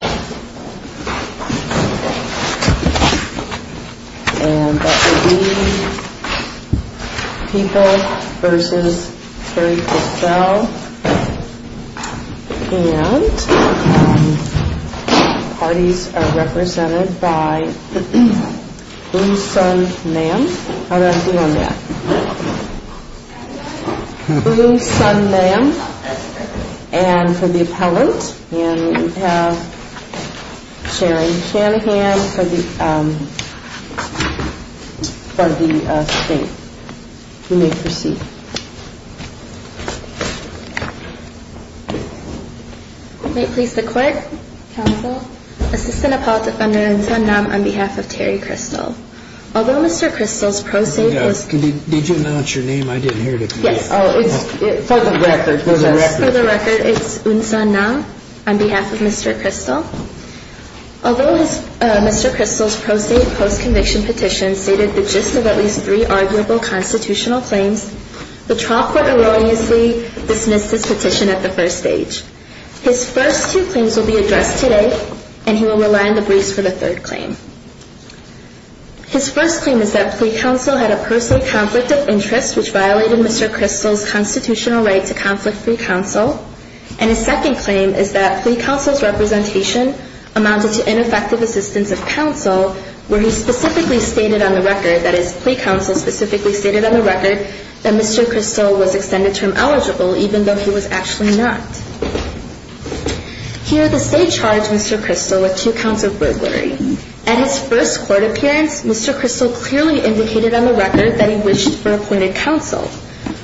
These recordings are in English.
and that would be People v. Curry-Cristel. And parties are represented by Blue Sun Nam. How did I do on that? Blue Sun Nam. And for the appellant, and we have Sharon Shanahan for the State. You may proceed. May it please the Court, Counsel, Assistant Appellant Defender Un Sun Nam on behalf of Terry Cristel. Although Mr. Cristel's pro se was post conviction petition stated the gist of at least three arguable constitutional claims, the trial court erroneously dismissed this petition at the first stage. His first two claims will be addressed today, and he will rely on the briefs for the third claim. His first claim is that the Counsel had a personal conflict of interest which violated Mr. Cristel's constitutional right to conflict-free counsel. And his second claim is that plea counsel's representation amounted to ineffective assistance of counsel where he specifically stated on the record, that is plea counsel specifically stated on the record, that Mr. Cristel was extended term eligible even though he was actually not. Here the State charged Mr. Cristel with two counts of burglary. At his first court appearance, Mr. Cristel clearly indicated on the record that he wished for appointed counsel.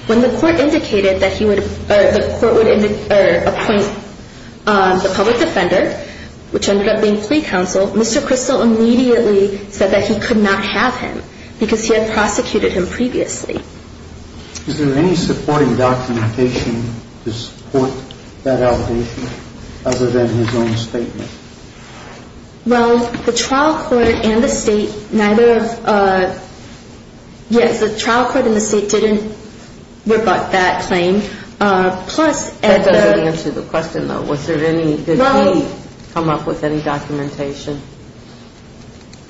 When the court indicated that he would, or the court would appoint the public defender, which ended up being plea counsel, Mr. Cristel immediately said that he could not have him because he had prosecuted him previously. Is there any supporting documentation to support that allegation other than his own statement? Well, the trial court and the State, neither of, yes, the trial court and the State didn't rebut that claim. Plus, at the That doesn't answer the question though. Was there any, did he come up with any documentation,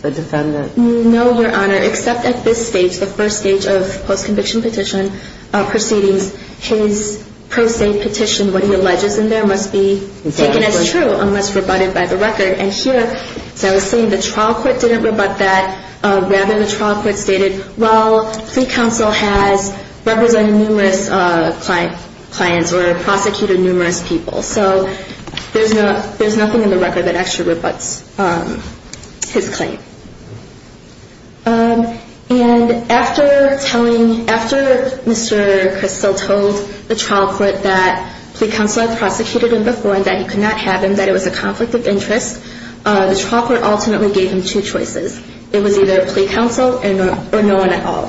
the defendant? No, Your Honor, except at this stage, the first stage of post-conviction petition proceedings, his pro se petition, what he alleges in there must be taken as true unless rebutted by the record. And here, as I was saying, the trial court didn't rebut that. Rather, the trial court stated, well, plea counsel has represented numerous clients or prosecuted numerous people. So there's nothing in the record that actually rebuts his claim. And after telling, after Mr. Cristel told the trial court that plea counsel had prosecuted him before and that he could not have him, that it was a conflict of interest, the trial court ultimately gave him two choices. It was either plea counsel or no one at all.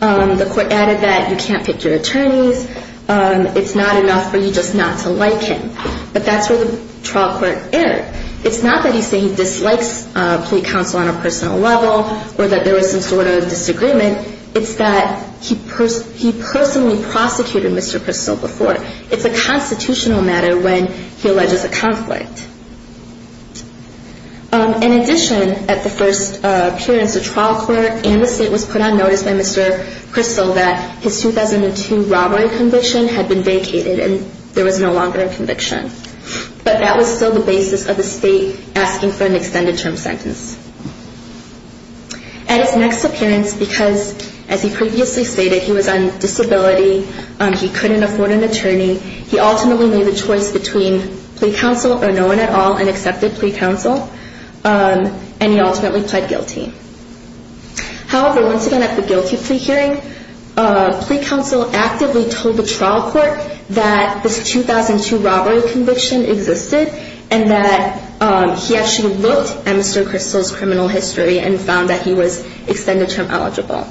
The court added that you can't pick your attorneys. It's not enough for you just not to like him. But that's where the trial court erred. It's not that he's saying he dislikes plea counsel on a personal level or that there was some sort of disagreement. It's that he personally prosecuted Mr. Cristel before. It's a constitutional matter when he alleges a conflict. In addition, at the first appearance, the trial court and the state was put on notice by Mr. Cristel that his 2002 robbery conviction had been vacated and there was no longer a conviction. But that was still the basis of the state asking for an extended term sentence. At his next appearance, because as he previously stated, he was on disability, he couldn't afford an attorney, he ultimately made the choice between plea counsel or no one at all and accepted plea counsel. And he ultimately pled guilty. However, once again at the guilty plea hearing, plea counsel actively told the trial court that this 2002 robbery conviction existed and that he actually looked at Mr. Cristel's criminal history and found that he was extended term eligible.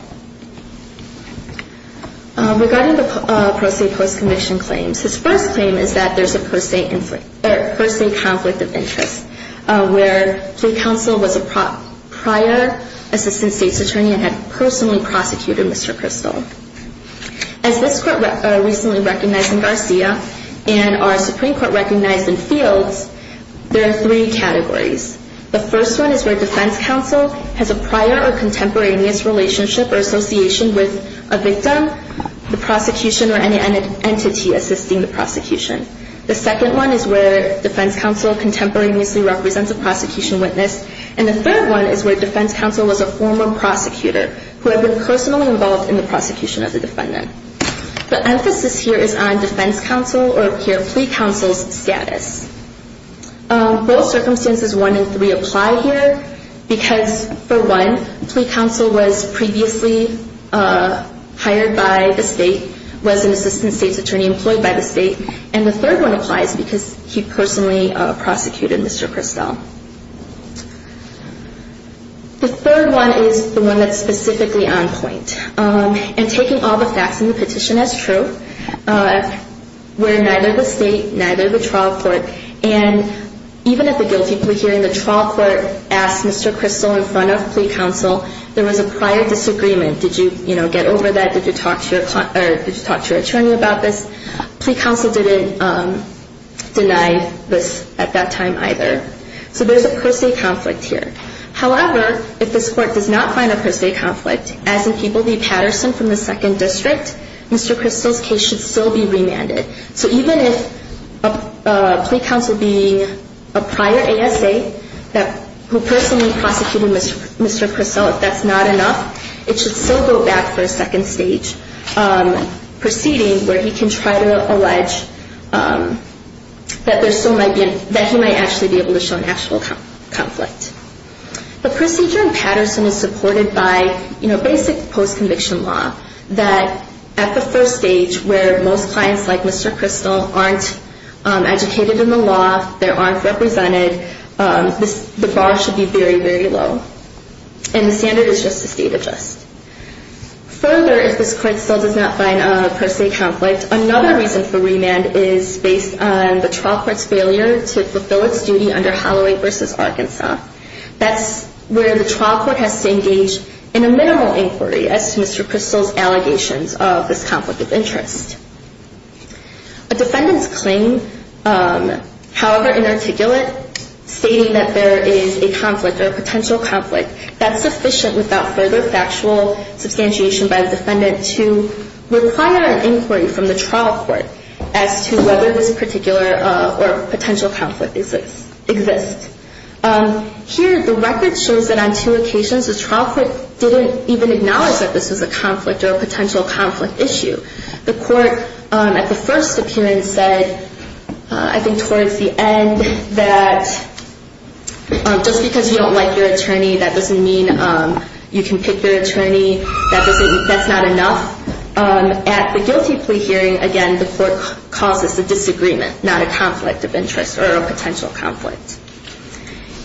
Regarding the pro se post conviction claims, his first claim is that there's a pro se conflict of interest where plea counsel was a prior assistant state's attorney and had personally prosecuted Mr. Cristel. As this court recently recognized in Garcia and our Supreme Court recognized in Fields, there are three categories. The first one is where defense counsel has a prior or contemporaneous relationship or association with a victim, the prosecution, or any entity assisting the prosecution. The second one is where defense counsel contemporaneously represents a prosecution witness. And the third one is where defense counsel was a former prosecutor who had been personally involved in the prosecution of the defendant. The emphasis here is on defense counsel or here plea counsel's status. Both circumstances one and three apply here because for one, plea counsel was previously hired by the state, was an assistant state's attorney employed by the state, and the third one applies because he personally prosecuted Mr. Cristel. The third one is the one that's specifically on point. And taking all the facts in the petition as true, where neither the state, neither the trial court, and even at the guilty plea hearing, the trial court asked Mr. Cristel in front of plea counsel, there was a prior disagreement, did you get over that, did you talk to your attorney about this, plea counsel didn't deny this at that time either. So there's a per se conflict here. However, if this court does not find a per se conflict, as in People v. Patterson from the Second District, Mr. Cristel's case should still be remanded. So even if plea counsel being a prior ASA who personally prosecuted Mr. Cristel, if that's not enough, it should still go back for a second stage proceeding where he can try to allege that he might actually be able to show an actual conflict. The procedure in Patterson is supported by basic post-conviction law, that at the first stage where most clients like Mr. Cristel aren't educated in the law, they aren't represented, the bar should be very, very low. And the standard is just a state of just. Further, if this court still does not find a per se conflict, another reason for remand is based on the trial court's failure to fulfill its duty under Holloway v. Arkansas. That's where the trial court has to engage in a minimal inquiry as to Mr. Cristel's allegations of this conflict of interest. A defendant's claim, however inarticulate, stating that there is a conflict or a potential conflict, that's sufficient without further factual substantiation by the defendant to require an inquiry from the trial court as to whether this particular or potential conflict exists. Here, the record shows that on two occasions the trial court didn't even acknowledge that this was a conflict or a potential conflict issue. The court at the first appearance said, I think towards the end, that just because you don't like your attorney, that doesn't mean you can pick your attorney, that's not enough. At the guilty plea hearing, again, the court calls this a disagreement, not a conflict of interest or a potential conflict.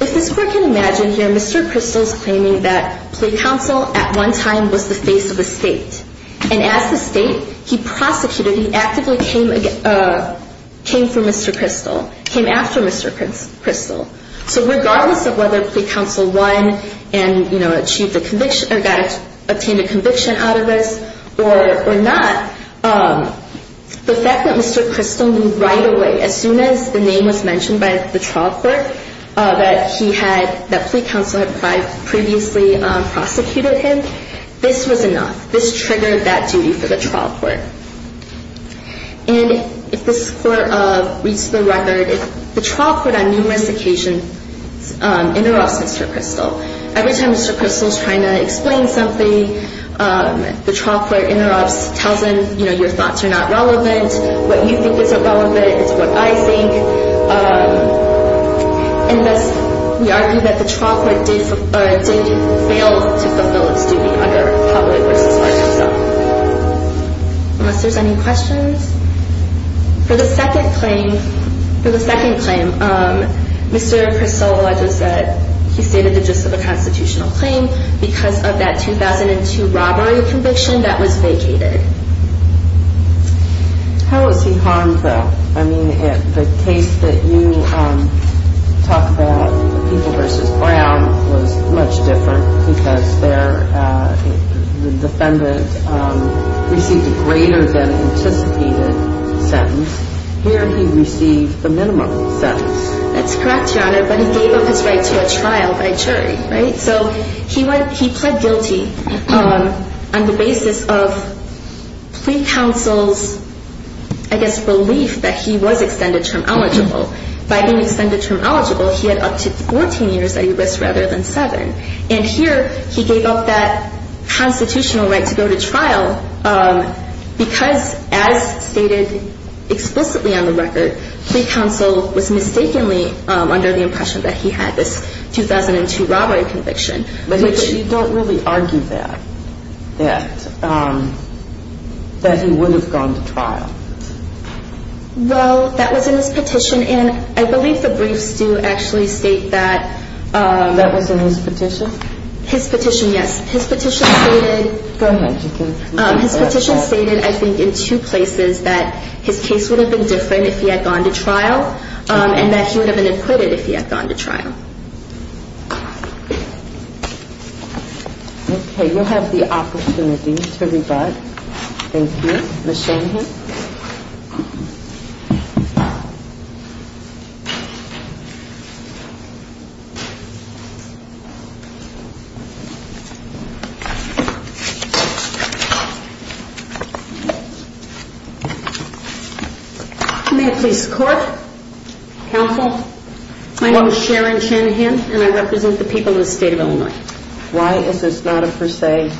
If this court can imagine here, Mr. Cristel's claiming that plea counsel at one time was the face of the state. And as the state, he prosecuted, he actively came for Mr. Cristel, came after Mr. Cristel. So regardless of whether plea counsel won and, you know, achieved a conviction or got, obtained a conviction out of this or not, the fact that Mr. Cristel knew right away, as soon as the name was mentioned by the trial court that he had, that plea counsel had previously prosecuted him, this was enough. This triggered that duty for the trial court. And if this court reads the record, the trial court on numerous occasions interrupts Mr. Cristel. Every time Mr. Cristel's trying to explain something, the trial court interrupts, tells him, you know, your thoughts are not relevant, what you think is irrelevant is what I think. And thus, we argue that the trial court did fail to fulfill its duty under public versus personal. For the second claim, Mr. Cristel alleged that he stated the gist of a constitutional claim because of that 2002 robbery conviction that was vacated. How was he harmed, though? I mean, the case that you talk about, the people versus Brown, was much different because the defendant received a greater than anticipated sentence. Here, he received the minimum sentence. That's correct, Your Honor, but he gave up his right to a trial by jury, right? So he went, he pled guilty on the basis of plea counsel's, I guess, belief that he was extended term eligible. By being extended term eligible, he had up to 14 years at risk rather than seven. And here, he gave up that constitutional right to go to trial because, as stated explicitly on the record, plea counsel was mistakenly under the impression that he had this 2002 robbery conviction. But you don't really argue that, that he would have gone to trial. Well, that was in his petition, and I believe the briefs do actually state that. That was in his petition? His petition, yes. Go ahead. His petition stated, I think, in two places that his case would have been different if he had gone to trial and that he would have been acquitted if he had gone to trial. Okay, you'll have the opportunity to rebut. Thank you. Ms. Shanahan. May it please the court, counsel, my name is Sharon Shanahan, and I represent the people of the state of Illinois. Why is this not a per se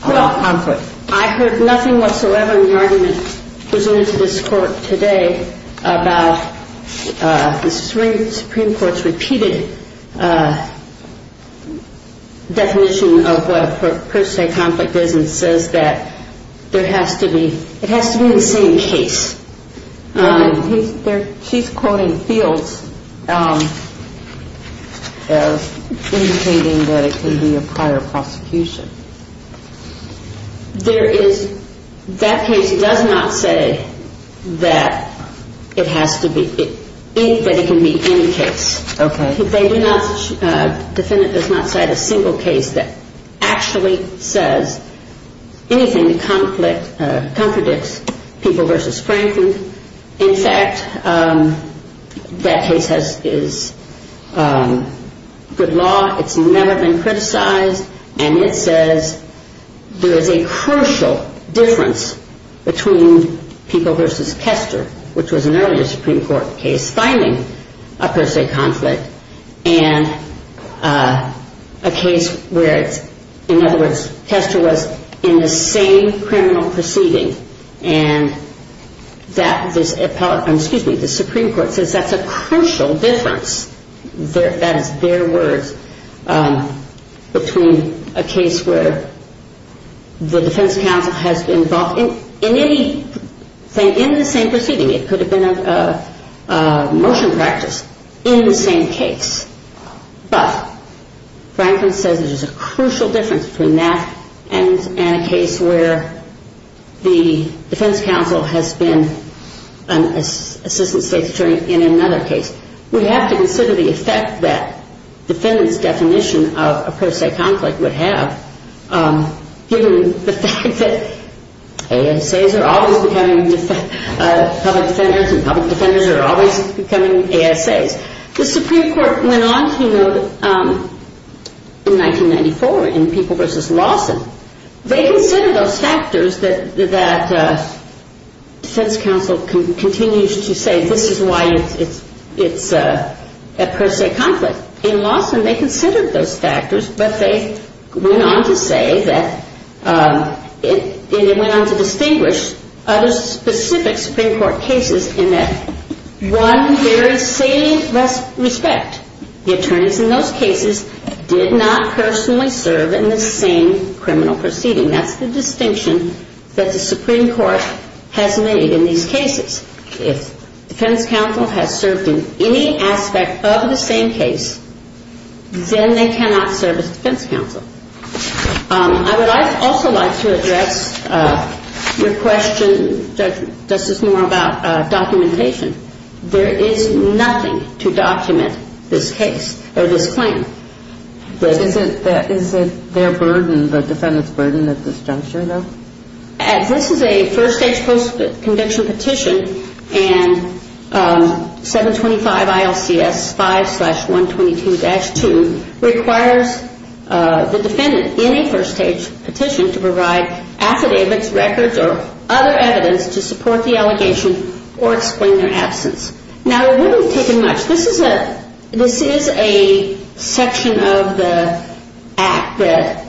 conflict? Well, I heard nothing whatsoever in the argument presented to this court today about the Supreme Court's repeated definition of what a per se conflict is and says that there has to be, it has to be the same case. She's quoting fields as indicating that it could be a prior prosecution. There is, that case does not say that it has to be, that it can be any case. Okay. Defendant does not cite a single case that actually says anything that contradicts People v. Franklin. In fact, that case is good law, it's never been criticized, and it says there is a crucial difference between People v. Kester, which was an earlier Supreme Court case, finding a per se conflict, and a case where it's, in other words, Kester was in the same criminal proceeding, and that this, excuse me, the Supreme Court says that's a crucial difference, that is their words, between a case where the defense counsel has been involved in any, in the same proceeding. It could have been a motion practice in the same case, but Franklin says there's a crucial difference between that and a case where the defense counsel has been an assistant state's attorney in another case. We have to consider the effect that defendant's definition of a per se conflict would have, given the fact that ASAs are always becoming public defenders, and public defenders are always becoming ASAs. The Supreme Court went on to note in 1994 in People v. Lawson, they consider those factors that defense counsel continues to say this is why it's a per se conflict. In Lawson, they considered those factors, but they went on to say that, and they went on to distinguish other specific Supreme Court cases in that, one, there is salient respect. The attorneys in those cases did not personally serve in the same criminal proceeding. That's the distinction that the Supreme Court has made in these cases. If defense counsel has served in any aspect of the same case, then they cannot serve as defense counsel. I would also like to address your question, Justice Moore, about documentation. There is nothing to document this case or this claim. Is it their burden, the defendant's burden at this juncture, though? This is a first-stage post-conviction petition, and 725 ILCS 5-122-2 requires the defendant in a first-stage petition to provide affidavits, records, or other evidence to support the allegation or explain their absence. Now, it wouldn't have taken much. This is a section of the Act that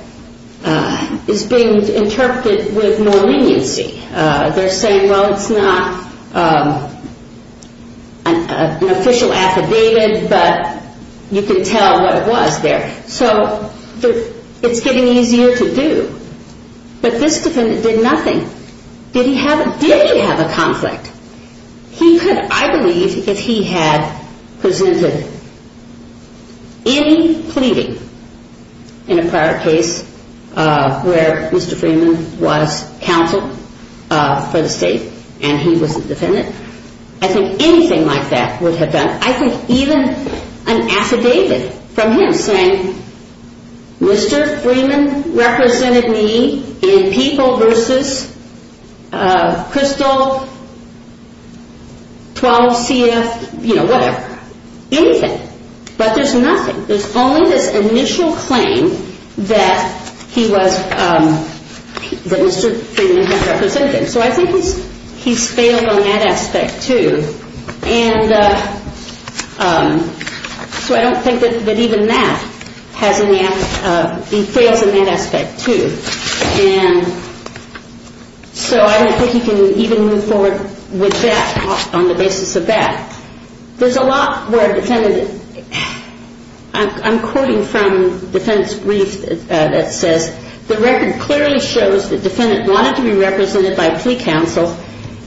is being interpreted with more leniency. They're saying, well, it's not an official affidavit, but you can tell what it was there. So it's getting easier to do. But this defendant did nothing. Did he have a conflict? He could, I believe, if he had presented any pleading in a prior case where Mr. Freeman was counsel for the state and he was the defendant. I think anything like that would have done. I think even an affidavit from him saying Mr. Freeman represented me in people versus crystal 12 CF, you know, whatever. Anything. But there's nothing. There's only this initial claim that he was, that Mr. Freeman had represented him. So I think he's failed on that aspect, too. And so I don't think that even that has any, he fails in that aspect, too. And so I don't think he can even move forward with that on the basis of that. There's a lot where a defendant, I'm quoting from the defendant's brief that says, the record clearly shows the defendant wanted to be represented by plea counsel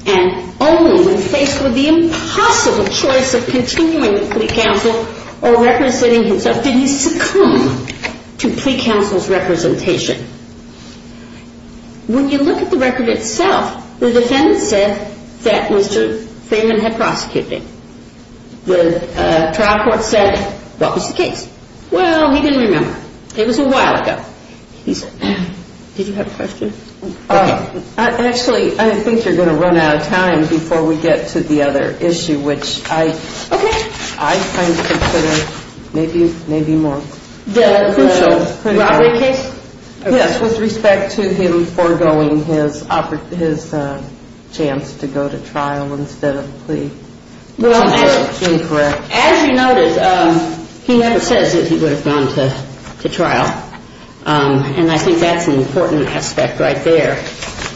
and only when faced with the impossible choice of continuing with plea counsel or representing himself did he succumb to plea counsel's representation. When you look at the record itself, the defendant said that Mr. Freeman had prosecuted him. The trial court said what was the case? Well, he didn't remember. It was a while ago. Did you have a question? Actually, I think you're going to run out of time before we get to the other issue, which I kind of consider maybe more. The crucial robbery case? Yes, with respect to him foregoing his chance to go to trial instead of plea. As you noted, he never says that he would have gone to trial. And I think that's an important aspect right there.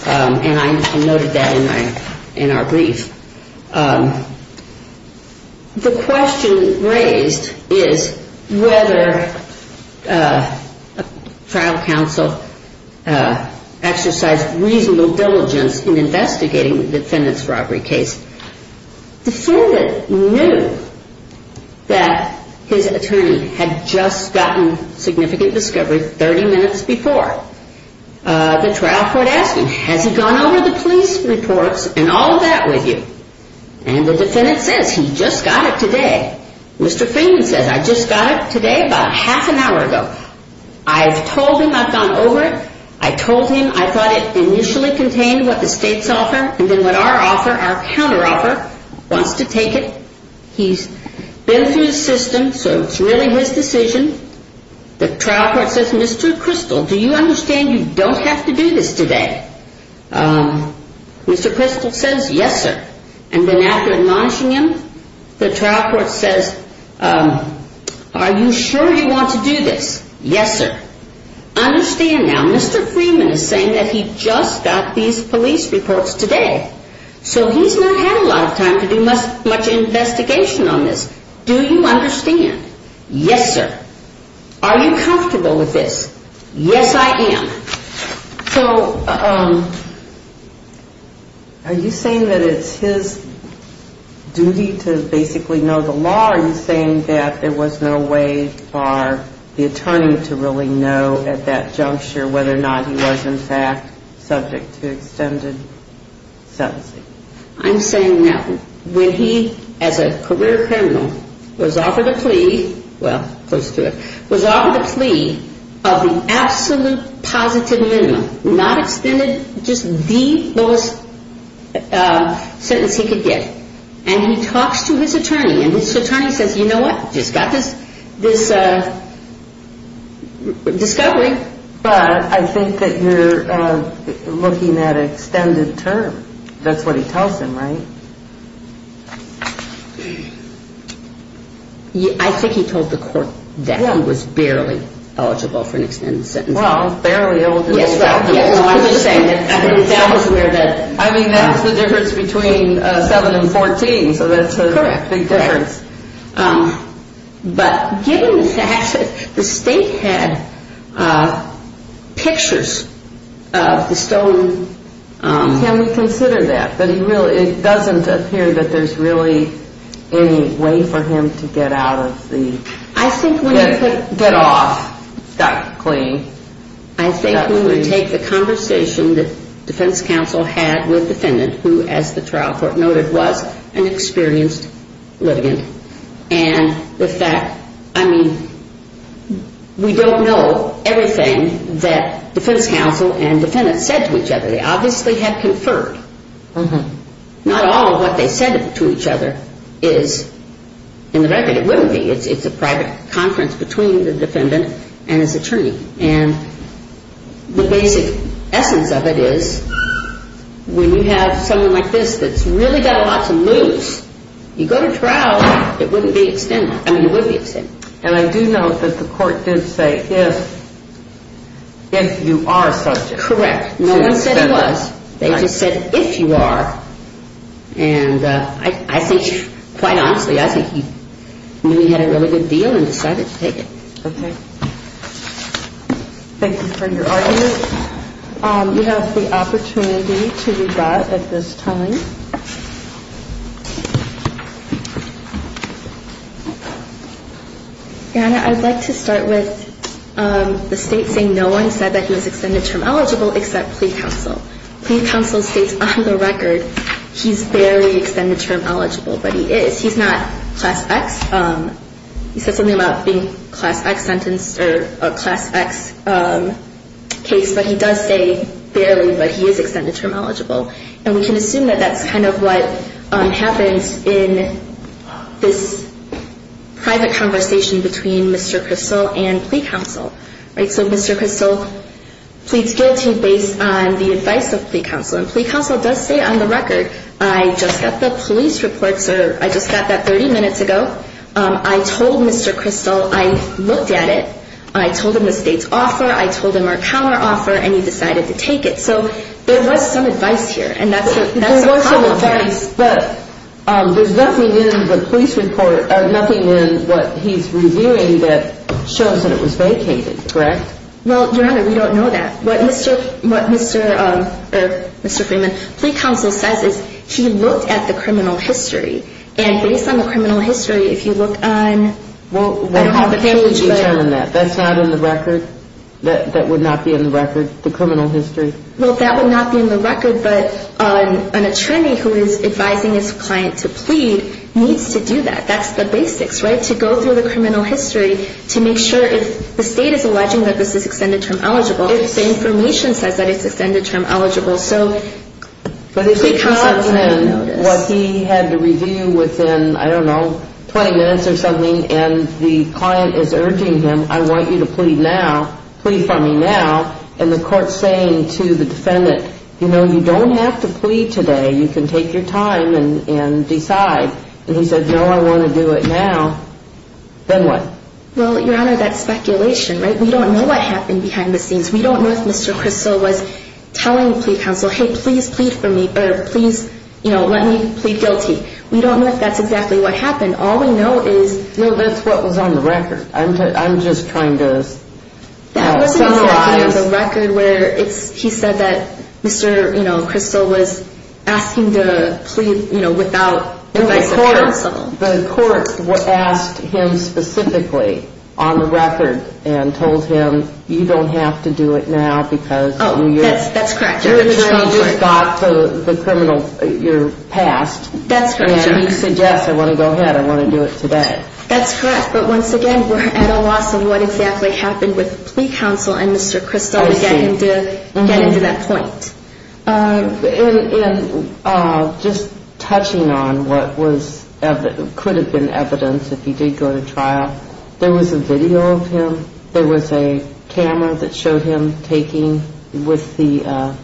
And I noted that in our brief. The question raised is whether a trial counsel exercised reasonable diligence in investigating the defendant's robbery case. The defendant knew that his attorney had just gotten significant discovery 30 minutes before. The trial court asked him, has he gone over the police reports and all of that with you? And the defendant says, he just got it today. Mr. Freeman says, I just got it today about half an hour ago. I've told him I've gone over it. I told him I thought it initially contained what the state's offer and then what our offer, our counteroffer wants to take it. He's been through the system, so it's really his decision. The trial court says, Mr. Crystal, do you understand you don't have to do this today? Mr. Crystal says, yes, sir. And then after admonishing him, the trial court says, are you sure you want to do this? Yes, sir. Understand now, Mr. Freeman is saying that he just got these police reports today. So he's not had a lot of time to do much investigation on this. Do you understand? Yes, sir. Are you comfortable with this? Yes, I am. So are you saying that it's his duty to basically know the law? Are you saying that there was no way for the attorney to really know at that juncture whether or not he was in fact subject to extended sentencing? I'm saying no. When he, as a career criminal, was offered a plea, well, close to it, was offered a plea of the absolute positive minimum, not extended, just the lowest sentence he could get. And he talks to his attorney, and his attorney says, you know what, you just got this discovery. But I think that you're looking at an extended term. That's what he tells him, right? I think he told the court that he was barely eligible for an extended sentence. Well, barely eligible. Yes, right. I mean, that's the difference between 7 and 14, so that's a big difference. But given the fact that the state had pictures of the stolen... Can we consider that? But it doesn't appear that there's really any way for him to get out of the... I think when he took... Get off. Got clean. I think we would take the conversation that defense counsel had with defendant, who, as the trial court noted, was an experienced litigant. And with that, I mean, we don't know everything that defense counsel and defendant said to each other. They obviously had conferred. Not all of what they said to each other is in the record. And it wouldn't be. It's a private conference between the defendant and his attorney. And the basic essence of it is when you have someone like this that's really got a lot to lose, you go to trial, it wouldn't be extended. I mean, it would be extended. And I do note that the court did say if you are subject. Correct. No one said he was. They just said if you are. And I think, quite honestly, I think he knew he had a really good deal and decided to take it. Okay. Thank you for your argument. You have the opportunity to rebut at this time. Anna, I'd like to start with the state saying no one said that he was extended term eligible except plea counsel. Plea counsel states on the record he's barely extended term eligible, but he is. He's not class X. He said something about being class X sentenced or a class X case. But he does say barely, but he is extended term eligible. And we can assume that that's kind of what happens in this private conversation between Mr. Kristol and plea counsel. So Mr. Kristol pleads guilty based on the advice of plea counsel. And plea counsel does say on the record, I just got the police report. I just got that 30 minutes ago. I told Mr. Kristol I looked at it. I told him the state's offer. I told him our counteroffer. And he decided to take it. So there was some advice here. But there's nothing in the police report, nothing in what he's reviewing that shows that it was vacated, correct? Well, Your Honor, we don't know that. What Mr. Freeman, plea counsel says is he looked at the criminal history. And based on the criminal history, if you look on the page. Well, how could you determine that? That's not in the record? That would not be in the record, the criminal history? Well, that would not be in the record. But an attorney who is advising his client to plead needs to do that. That's the basics, right? To go through the criminal history to make sure if the state is alleging that this is extended term eligible, if the information says that it's extended term eligible. So plea counsel may notice. But if it's not in what he had to review within, I don't know, 20 minutes or something, and the client is urging him, I want you to plead now, plead for me now, and the court is saying to the defendant, you know, you don't have to plead today. You can take your time and decide. And he said, no, I want to do it now. Then what? Well, Your Honor, that's speculation, right? We don't know what happened behind the scenes. We don't know if Mr. Crystal was telling plea counsel, hey, please plead for me, or please, you know, let me plead guilty. We don't know if that's exactly what happened. All we know is... No, that's what was on the record. I'm just trying to summarize. That wasn't exactly on the record where he said that Mr. Crystal was asking to plead, you know, without advice of counsel. No, the court asked him specifically on the record and told him, you don't have to do it now because... Oh, that's correct..... you just got the criminal, your past. That's correct, Your Honor. And he suggests, I want to go ahead, I want to do it today. That's correct, but once again, we're at a loss of what exactly happened with plea counsel and Mr. Crystal to get into that point. And just touching on what could have been evidence if he did go to trial, there was a video of him, there was a camera that showed him taking with the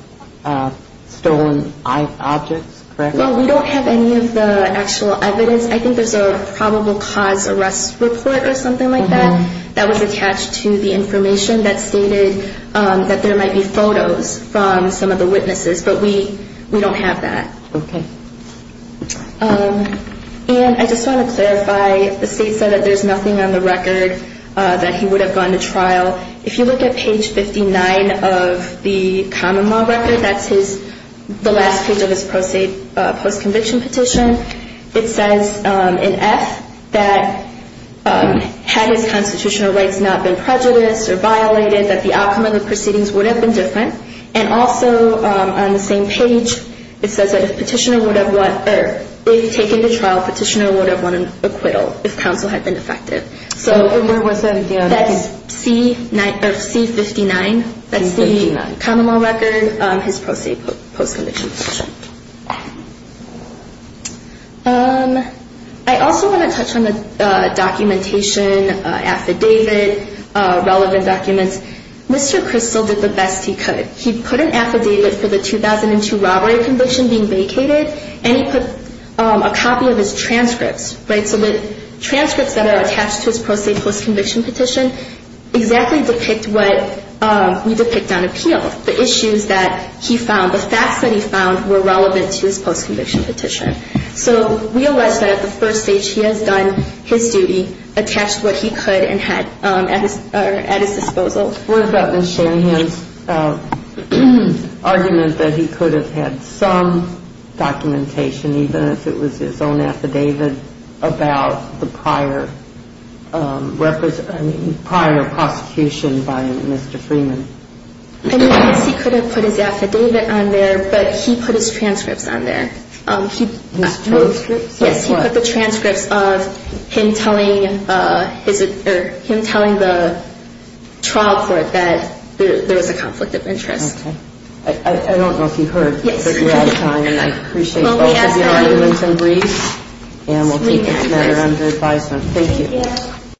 stolen objects, correct? Well, we don't have any of the actual evidence. I think there's a probable cause arrest report or something like that that was attached to the information that stated that there might be photos from some of the witnesses, but we don't have that. Okay. And I just want to clarify, the state said that there's nothing on the record that he would have gone to trial. If you look at page 59 of the common law record, that's the last page of his post-conviction petition, it says in F that had his constitutional rights not been prejudiced or violated, that the outcome of the proceedings would have been different. And also on the same page, it says that if taken to trial, petitioner would have won an acquittal if counsel had been effective. So that's C59, that's the common law record, his post-conviction petition. I also want to touch on the documentation, affidavit, relevant documents. Mr. Crystal did the best he could. He put an affidavit for the 2002 robbery conviction being vacated, and he put a copy of his transcripts, right? The transcripts of his post-conviction petition exactly depict what we depict on appeal. The issues that he found, the facts that he found were relevant to his post-conviction petition. So we allege that at the first stage he has done his duty, attached what he could and had at his disposal. What about Ms. Shanahan's argument that he could have had some documentation, even if it was his own affidavit, about the prior prosecution by Mr. Freeman? I mean, yes, he could have put his affidavit on there, but he put his transcripts on there. His transcripts? In terms of him telling the trial court that there was a conflict of interest. Okay. I don't know if you heard, but we're out of time, and I appreciate both of you. I'm going to do some briefs, and we'll keep this matter under advisement. Thank you.